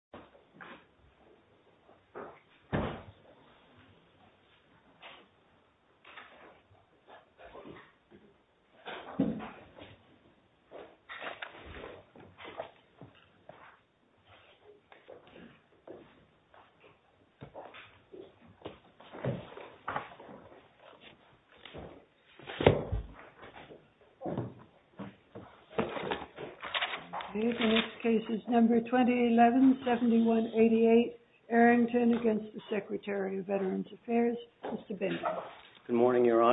Good evening ladies and gentlemen and good morning to all.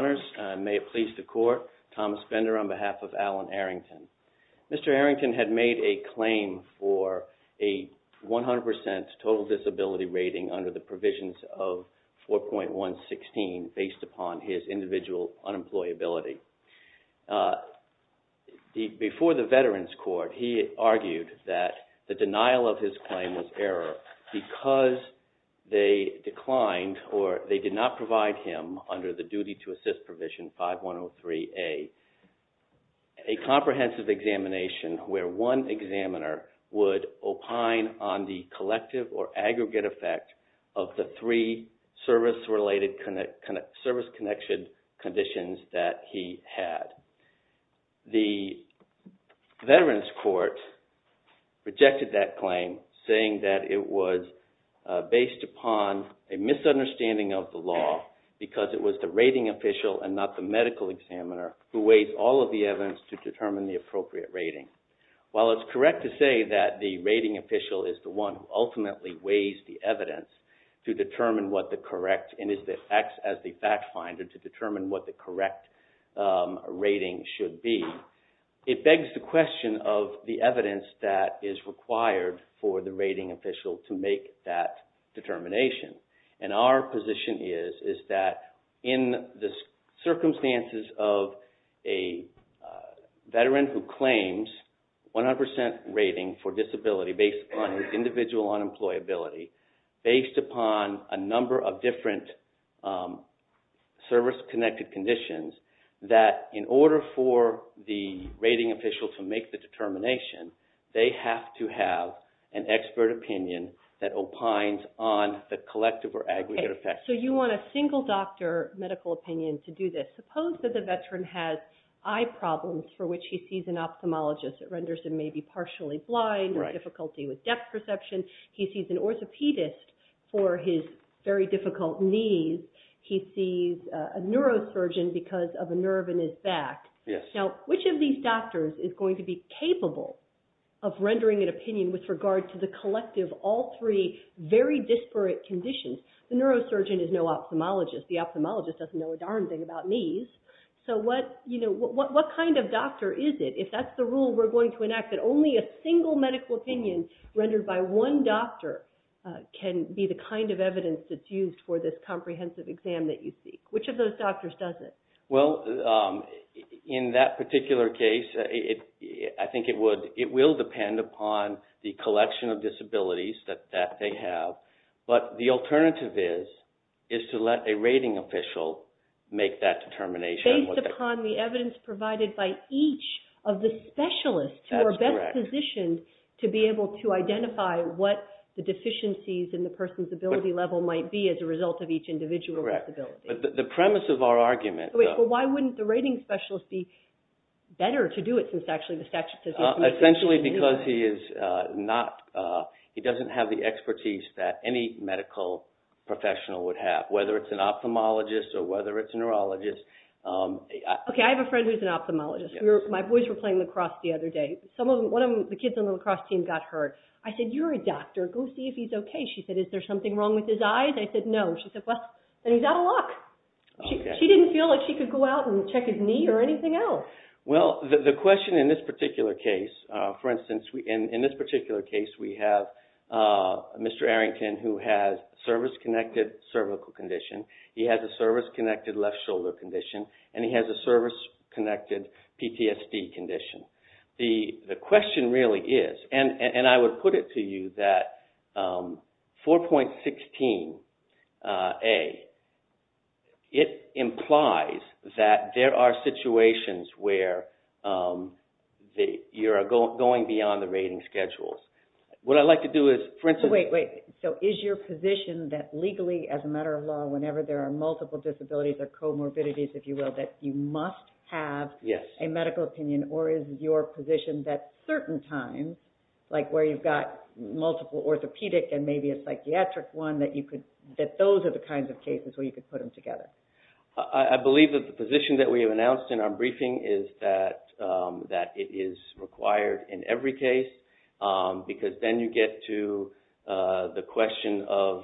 Mr. Arrington had made a claim for a 100% total disability rating under the provisions of 4.116 based upon his individual unemployability. Before the claimant's error, because they declined or they did not provide him under the duty to assist provision 5103A, a comprehensive examination where one examiner would opine on the collective or aggregate effect of the three service-related service connection conditions that he had. The Veterans Court rejected that claim saying that it was based upon a misunderstanding of the law because it was the rating official and not the medical examiner who weighs all of the evidence to determine the appropriate rating. While it's correct to say that the rating official is the one who ultimately weighs the evidence to determine what the correct and is that acts as the fact finder to determine what the correct rating should be, it begs the question of the evidence that is required for the rating official to make that determination. Our position is that in the circumstances of a veteran who claims 100% rating for disability based on his individual unemployability, based upon a number of different service-connected conditions that in order for the rating official to make the determination, they have to have an expert opinion that opines on the collective or aggregate effect. So you want a single doctor medical opinion to do this. Suppose that the veteran has eye problems for which he sees an ophthalmologist that renders him maybe partially blind or difficulty with depth perception. He sees an orthopedist for his very difficult knees. He sees a neurosurgeon because of a nerve in his back. Now which of these doctors is going to be capable of rendering an opinion with regard to the collective, all three very disparate conditions? The neurosurgeon is no ophthalmologist. The ophthalmologist doesn't know a darn thing about knees. So what kind of doctor is it? If that's the rule we're going to enact, that only a single medical opinion rendered by one doctor can be the kind of evidence that's used for this comprehensive exam that you seek. Which of those doctors doesn't? Well, in that particular case, I think it would, it will depend upon the collection of disabilities that they have, but the alternative is to let a rating official make that determination. Based upon the evidence provided by each of the specialists who are best positioned to be able to identify what the deficiencies in the person's ability level might be as a result of each individual disability. The premise of our argument... Wait, but why wouldn't the rating specialist be better to do it since actually the statute says... Essentially because he is not, he doesn't have the expertise that any medical professional would have, whether it's an ophthalmologist or whether it's a neurologist. Okay, I have a friend who's an ophthalmologist. My boys were playing lacrosse the other day. Some of them, one of the kids on the lacrosse team got hurt. I said, you're a doctor, go see if he's okay. She said, is there something wrong with his eyes? I said, no. She said, well, then he's out of luck. She didn't feel like she could go out and check his knee or anything else. Well, the question in this particular case, for instance, in this particular case, we have Mr. Arrington who has service-connected cervical condition. He has a service-connected left shoulder condition, and he has a service-connected PTSD condition. The question really is, and I would put it to you, that 4.16A, it implies that there are situations where you are going beyond the rating schedules. What I'd like to do is, for instance... Wait, wait, so is your position that legally, as a matter of law, whenever there are multiple disabilities or comorbidities, if you will, that you must have a medical opinion, or is your position that certain times, like where you've got multiple orthopedic and maybe a psychiatric one, that those are the kinds of cases where you could put them together? I believe that the position that we have announced in our briefing is that it is required in every case, because then you get to the question of...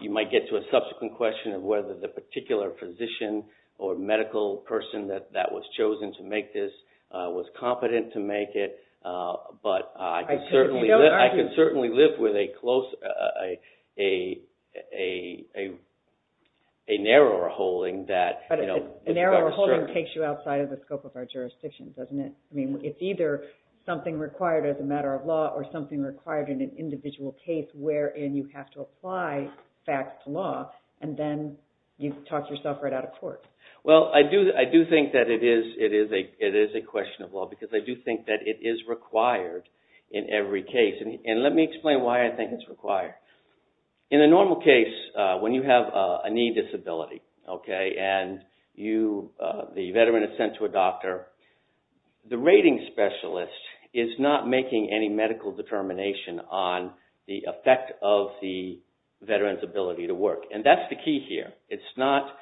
You might get to a subsequent question of whether the particular physician or medical person that was chosen to make this was competent to make it, but I could certainly live with a narrower holding that... But a narrower holding takes you outside of the scope of our jurisdictions, doesn't it? I mean, it's either something required as a matter of law, or something required in an individual case, wherein you have to talk yourself right out of court. Well, I do think that it is a question of law, because I do think that it is required in every case. And let me explain why I think it's required. In a normal case, when you have a knee disability, okay, and the veteran is sent to a doctor, the rating specialist is not making any medical determination on the effect of the limitations. It's not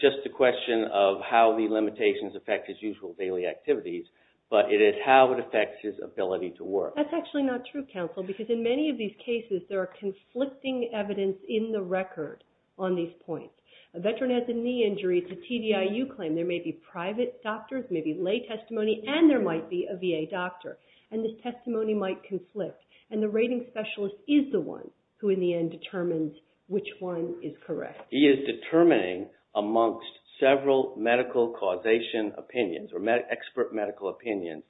just a question of how the limitations affect his usual daily activities, but it is how it affects his ability to work. That's actually not true, counsel, because in many of these cases, there are conflicting evidence in the record on these points. A veteran has a knee injury. It's a TDIU claim. There may be private doctors, there may be lay testimony, and there might be a VA doctor. And this testimony might conflict. And the rating specialist is the one who, in the end, determines which one is correct. He is determining amongst several medical causation opinions, or expert medical opinions,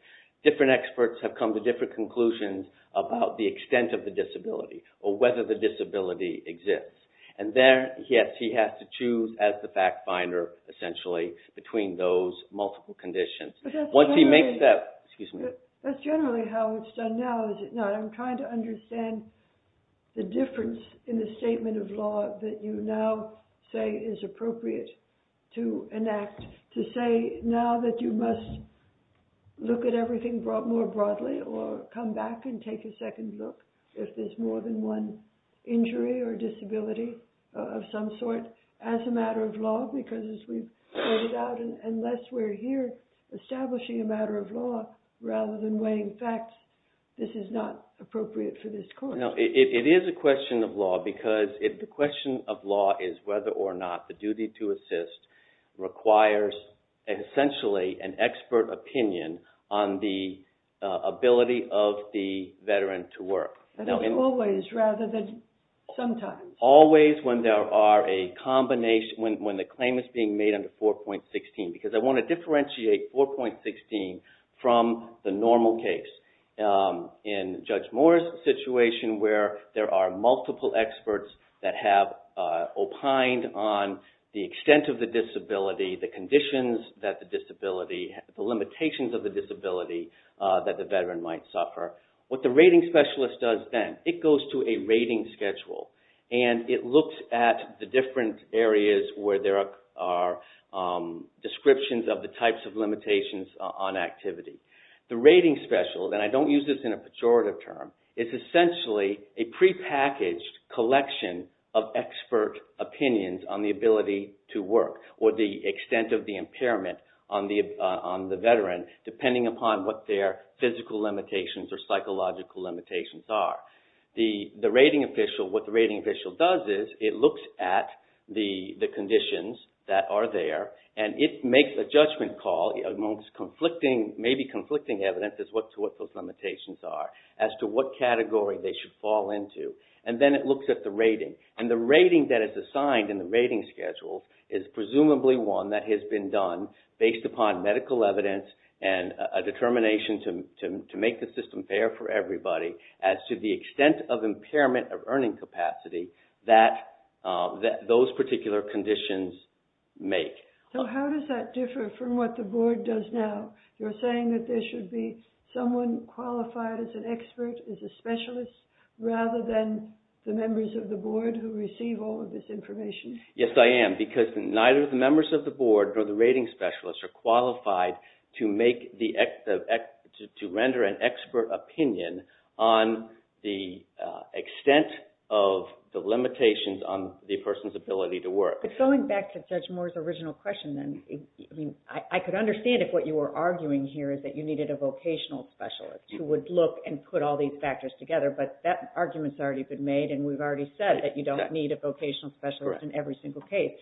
different experts have come to different conclusions about the extent of the disability, or whether the disability exists. And there, yes, he has to choose as the fact finder, essentially, between those multiple conditions. But that's generally how it's done now, is it not? I'm trying to understand the difference in the statement of law that you now say is appropriate to enact, to say now that you must look at everything more broadly, or come back and take a second look, if there's more than one injury or disability of some sort, as a matter of law, because as we've pointed out, unless we're here establishing a matter of law, rather than weighing facts, this is not a question of law, because if the question of law is whether or not the duty to assist requires, essentially, an expert opinion on the ability of the veteran to work. Always, rather than sometimes. Always, when there are a combination, when the claim is being made under 4.16, because I want to differentiate 4.16 from the normal case. In Judge O'Connor, there are multiple experts that have opined on the extent of the disability, the conditions that the disability, the limitations of the disability that the veteran might suffer. What the rating specialist does then, it goes to a rating schedule, and it looks at the different areas where there are descriptions of the types of limitations on activity. The rating special, and I don't use this in a pejorative term, is essentially a prepackaged collection of expert opinions on the ability to work, or the extent of the impairment on the veteran, depending upon what their physical limitations or psychological limitations are. The rating official, what the rating official does is, it looks at the conditions that are there, and it makes a judgment call amongst conflicting, maybe conflicting evidence as to what those limitations are, as to what category they should fall into. And then it looks at the rating. And the rating that is assigned in the rating schedule is presumably one that has been done based upon medical evidence, and a determination to make the system fair for everybody, as to the extent of impairment of earning capacity that those particular conditions make. So how does that differ from what the board does now? You're saying that there should be someone qualified as an expert, as a specialist, rather than the members of the board who receive all of this information? Yes, I am, because neither the members of the board nor the rating specialists are qualified to render an expert opinion on the extent of the limitations on the person's ability to work. But going back to Judge Moore's original question, then, I could understand if what you were arguing here is that you needed a vocational specialist who would look and put all these factors together, but that argument has already been made, and we've already said that you don't need a vocational specialist in every single case.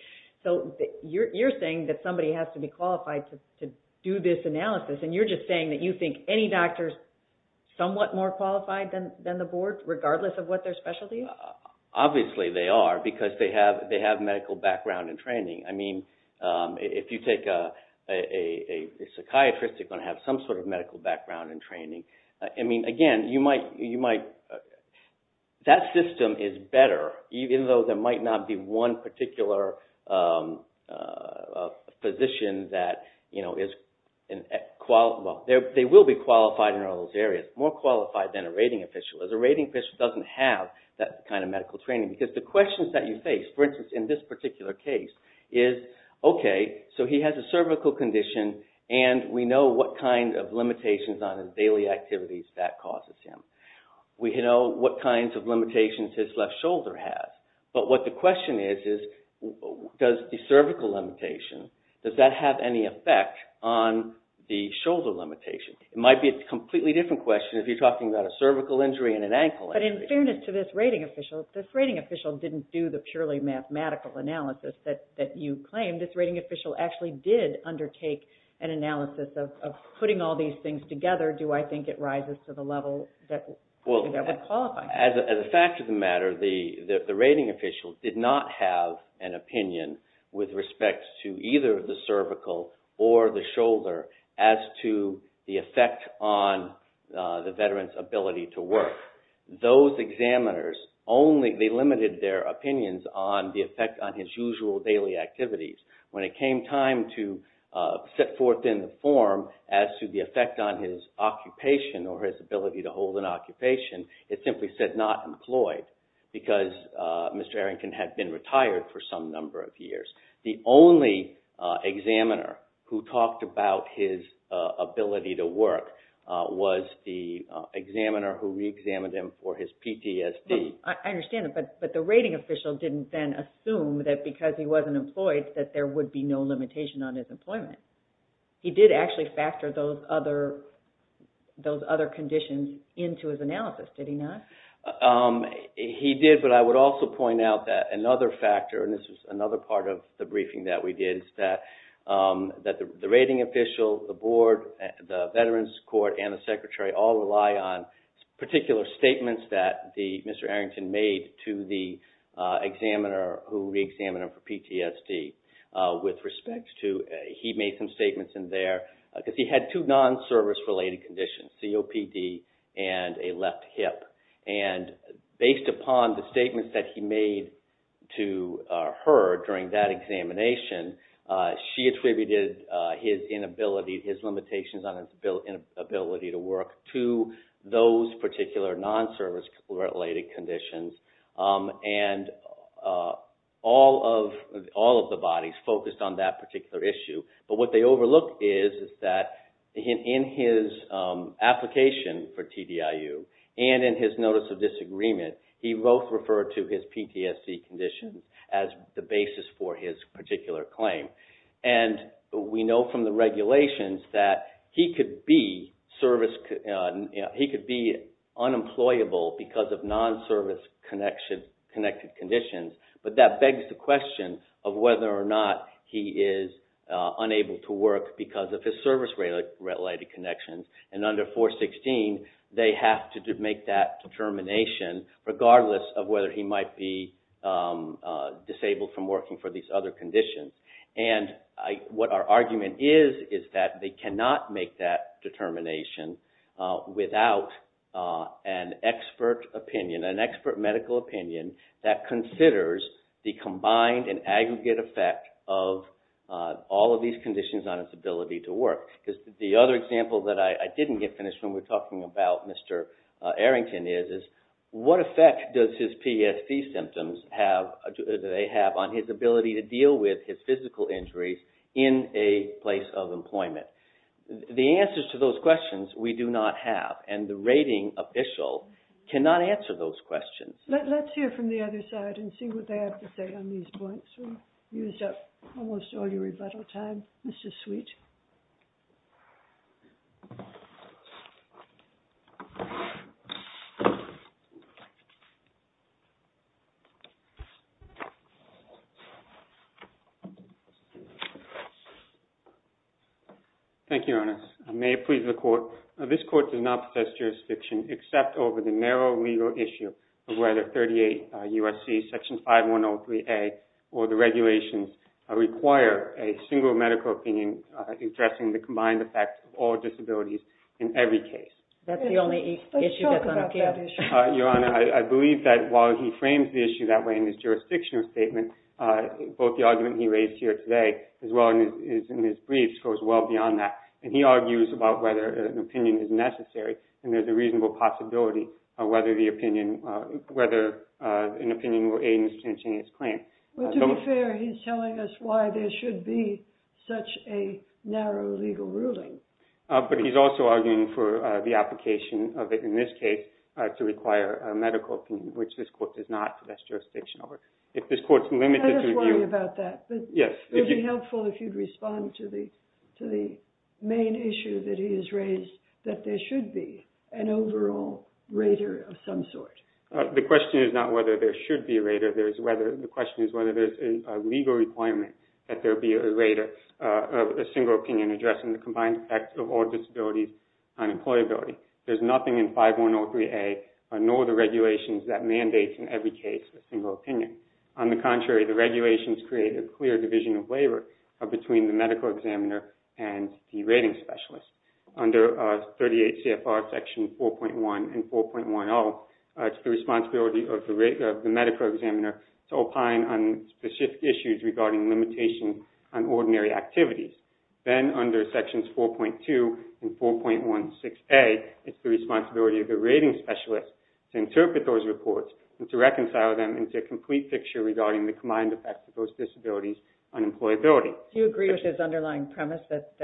So you're saying that somebody has to be qualified to do this analysis, and you're just saying that you think any doctor is somewhat more qualified than the board, regardless of what their specialty is? Obviously they are, because they have medical background and training. I mean, if you take a psychiatrist, you're going to have some sort of medical background and training. I mean, again, you might – that system is better, even though there might not be one particular physician that is – well, they will be qualified in all those areas, more qualified than a rating official, as a rating official doesn't have that kind of medical training, because the Okay, so he has a cervical condition, and we know what kind of limitations on his daily activities that causes him. We know what kinds of limitations his left shoulder has. But what the question is, is does the cervical limitation, does that have any effect on the shoulder limitation? It might be a completely different question if you're talking about a cervical injury and an ankle injury. But in fairness to this rating official, this rating official didn't do the analysis. This rating official actually did undertake an analysis of putting all these things together. Do I think it rises to the level that would qualify? Well, as a fact of the matter, the rating official did not have an opinion with respect to either the cervical or the shoulder as to the effect on the veteran's ability to work. Those examiners only – they limited their activities. When it came time to set forth in the form as to the effect on his occupation or his ability to hold an occupation, it simply said not employed, because Mr. Arrington had been retired for some number of years. The only examiner who talked about his ability to work was the examiner who reexamined him for his PTSD. I understand that, but the rating official didn't then assume that because he wasn't employed that there would be no limitation on his employment. He did actually factor those other conditions into his analysis, did he not? He did, but I would also point out that another factor, and this was another part of the briefing that we did, is that the rating official, the board, the veterans court, and the secretary all rely on particular statements that Mr. Arrington made to the examiner for PTSD with respect to – he made some statements in there, because he had two non-service-related conditions, COPD and a left hip. Based upon the statements that he made to her during that examination, she attributed his inability, his limitations on his ability to work to those particular non-service-related conditions. All of the bodies focused on that particular issue, but what they overlooked is that in his application for TDIU and in his notice of disagreement, he both referred to his PTSD conditions as the basis for his particular claim. We know from the examiner that he could be unemployable because of non-service-connected conditions, but that begs the question of whether or not he is unable to work because of his service-related connections. Under 416, they have to make that determination, regardless of whether he might be disabled from working for these other conditions. What our argument is, is that they cannot make that determination without an expert opinion, an expert medical opinion that considers the combined and aggregate effect of all of these conditions on his ability to work. The other example that I didn't get finished when we were talking about Mr. Arrington is, what effect does his PTSD symptoms have on his ability to deal with his physical injuries in a place of employment? The answers to those questions, we do not have, and the rating official cannot answer those questions. Let's hear from the other side and see what they have to say on these points. We've used up almost all your rebuttal time, Mr. Sweet. Thank you, Your Honor. May it please the Court, this Court does not possess jurisdiction except over the narrow legal issue of whether 38 U.S.C. Section 5103A or the regulations require a single medical opinion addressing the combined effect of all disabilities in every case. That's the only issue that's on appeal. Your Honor, I believe that while he frames the issue that way in his jurisdictional statement, both the argument he raised here today, as well as in his briefs, goes well beyond that. He argues about whether an opinion is necessary, and there's a To be fair, he's telling us why there should be such a narrow legal ruling. But he's also arguing for the application of it, in this case, to require a medical opinion, which this Court does not possess jurisdiction over. If this Court's limited to I just worry about that, but it would be helpful if you'd respond to the main issue that he has raised, that there should be an overall rater of some sort. The question is not whether there should be a rater. The question is whether there's a legal requirement that there be a rater of a single opinion addressing the combined effect of all disabilities on employability. There's nothing in 5103A nor the regulations that mandates in every case a single opinion. On the contrary, the regulations create a clear division of labor between the medical examiner and the rating specialist. Under 38 CFR Section 4.1 and 4.10, it's the responsibility of the medical examiner to opine on specific issues regarding limitation on ordinary activities. Then under Sections 4.2 and 4.16A, it's the responsibility of the rating specialist to interpret those reports and to reconcile them into a complete picture regarding the combined effect of those disabilities on employability. Do you agree with his underlying premise that,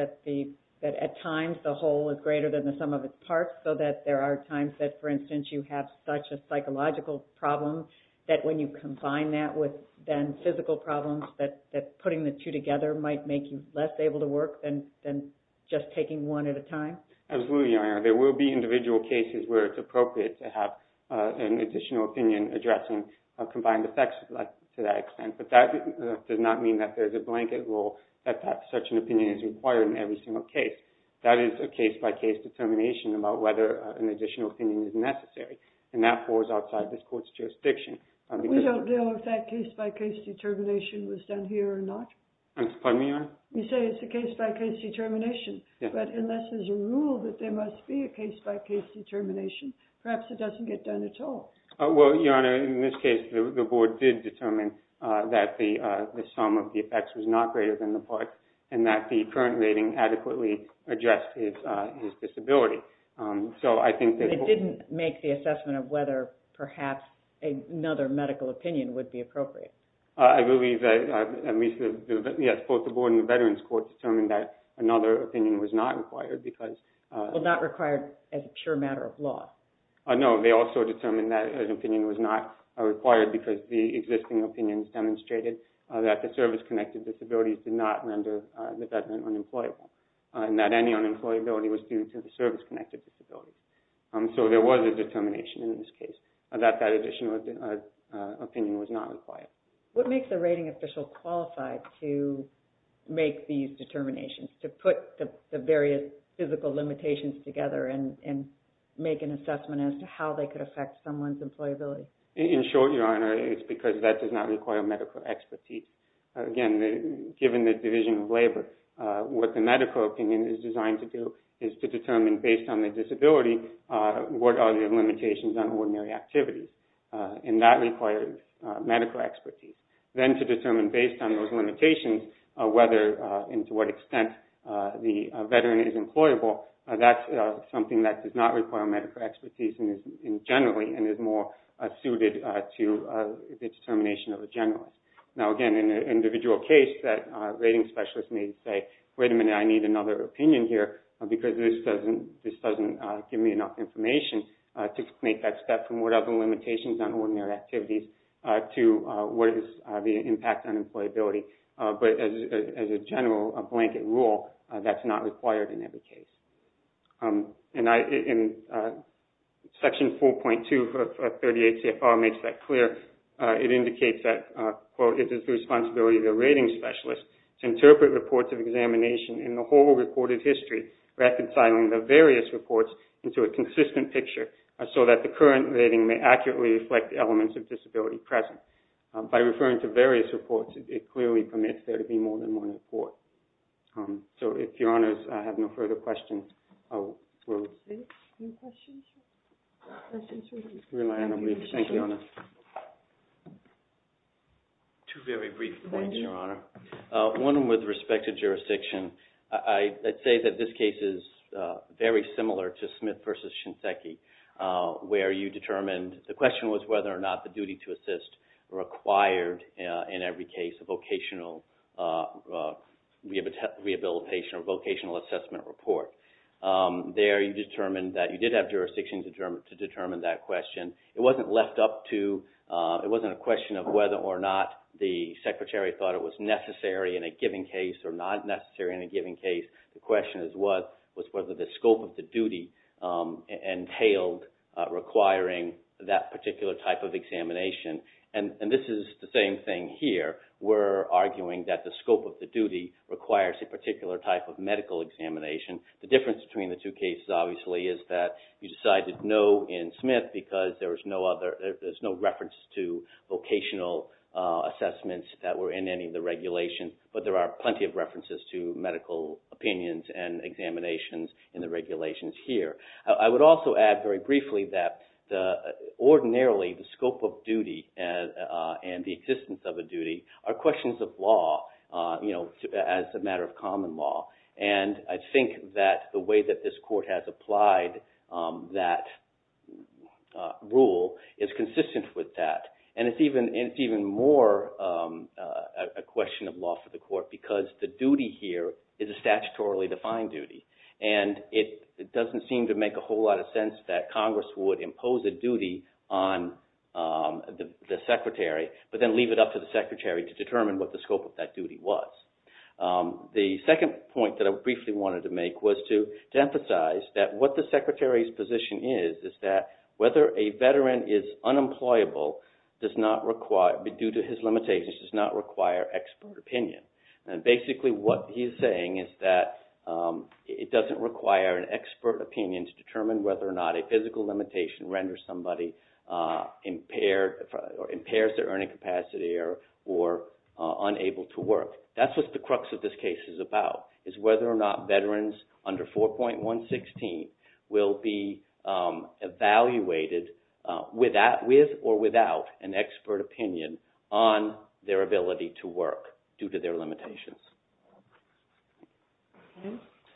at times, the whole is greater than the sum of its parts, so that there are times that, for instance, you have such a psychological problem that when you combine that with then physical problems, that putting the two together might make you less able to work than just taking one at a time? Absolutely. There will be individual cases where it's appropriate to have an additional opinion addressing combined effects to that extent, but that does not mean that there's a blanket rule that such an opinion is required in every single case. That is a case-by-case determination about whether an additional opinion is necessary, and that falls outside this court's jurisdiction. We don't know if that case-by-case determination was done here or not. I'm sorry, Your Honor? You say it's a case-by-case determination, but unless there's a rule that there must be a case-by-case determination, perhaps it doesn't get done at all. Well, Your Honor, in this case, the board did determine that the sum of the effects was not greater than the part, and that the current rating adequately addressed his disability. But it didn't make the assessment of whether perhaps another medical opinion would be appropriate. I believe that, yes, both the board and the Veterans Court determined that another opinion was not required because... Well, not required as a pure matter of law. No, they also determined that an opinion was not required because the existing opinions demonstrated that the service-connected disabilities did not render the veteran unemployable, and that any unemployability was due to the service-connected disability. So there was a determination in this case that that additional opinion was not required. What makes a rating official qualified to make these determinations, to put the various physical limitations together and make an assessment as to how they could affect someone's employability? In short, Your Honor, it's because that does not require medical expertise. Again, given the division of labor, what the medical opinion is designed to do is to determine based on the disability what are the limitations on ordinary activities, and that requires medical expertise. Then to determine based on those limitations whether and to what extent the veteran is employable, that's something that does not require medical expertise generally and is more suited to the determination of a generalist. Now, again, in an individual case, that rating specialist may say, wait a minute, I need another opinion here because this doesn't give me enough information to make that step from what are the limitations on ordinary activities to what is the impact on employability. But as a general blanket rule, that's not required in every case. And Section 4.2 of 38 CFR makes that clear. It indicates that, quote, it is the responsibility of the rating specialist to interpret reports of examination in the whole reported history, reconciling the various reports into a consistent picture so that the current rating may accurately reflect elements of disability present. By referring to various reports, it clearly permits there to be more than one report. So if Your Honors, I have no further questions. I will rely on a brief. Thank you, Your Honor. Two very brief points, Your Honor. One with respect to jurisdiction. I'd say that this case is very similar to Smith versus Shinseki, where you determined, the question was whether or not the duty to assist required in every case a vocational rehabilitation or vocational assessment report. There you determined that you did have jurisdiction to determine that question. It wasn't left up to, it wasn't a question of whether or not the Secretary thought it was necessary in a given case or not necessary in a given case. The question was whether the scope of the duty entailed requiring that particular type of examination. And this is the same thing here. We're arguing that the scope of the duty requires a particular type of medical examination. The difference between the two cases, obviously, is that you decided no in Smith because there was no other, there's no reference to vocational assessments that were in any of the regulations. But there are plenty of references to medical opinions and examinations in the regulations here. I would also add very briefly that ordinarily, the scope of duty and the existence of a duty are questions of law, as a matter of common law. And I think that the way that this Court has applied that rule is consistent with that. And it's even more a question of law for the Court because the duty here is a statutorily defined duty. And it doesn't seem to make a whole lot of sense that Congress would impose a duty on the Secretary, but then leave it up to the Secretary to determine what the scope of that duty was. The second point that I briefly wanted to make was to emphasize that what the Secretary's position is, is that whether a veteran is unemployable does not require, due to his limitations, does not require expert opinion. And basically, what he's saying is that it doesn't require an expert opinion to determine whether or not a physical limitation renders somebody impaired or impairs their earning capacity or unable to work. That's what the crux of this case is about, is whether or not veterans under 4.116 will be evaluated with or without an expert opinion on their ability to work due to their limitations.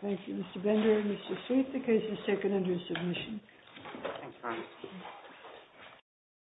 Thank you, Mr. Bender and Mr. Sweet, the case is seconded to submission.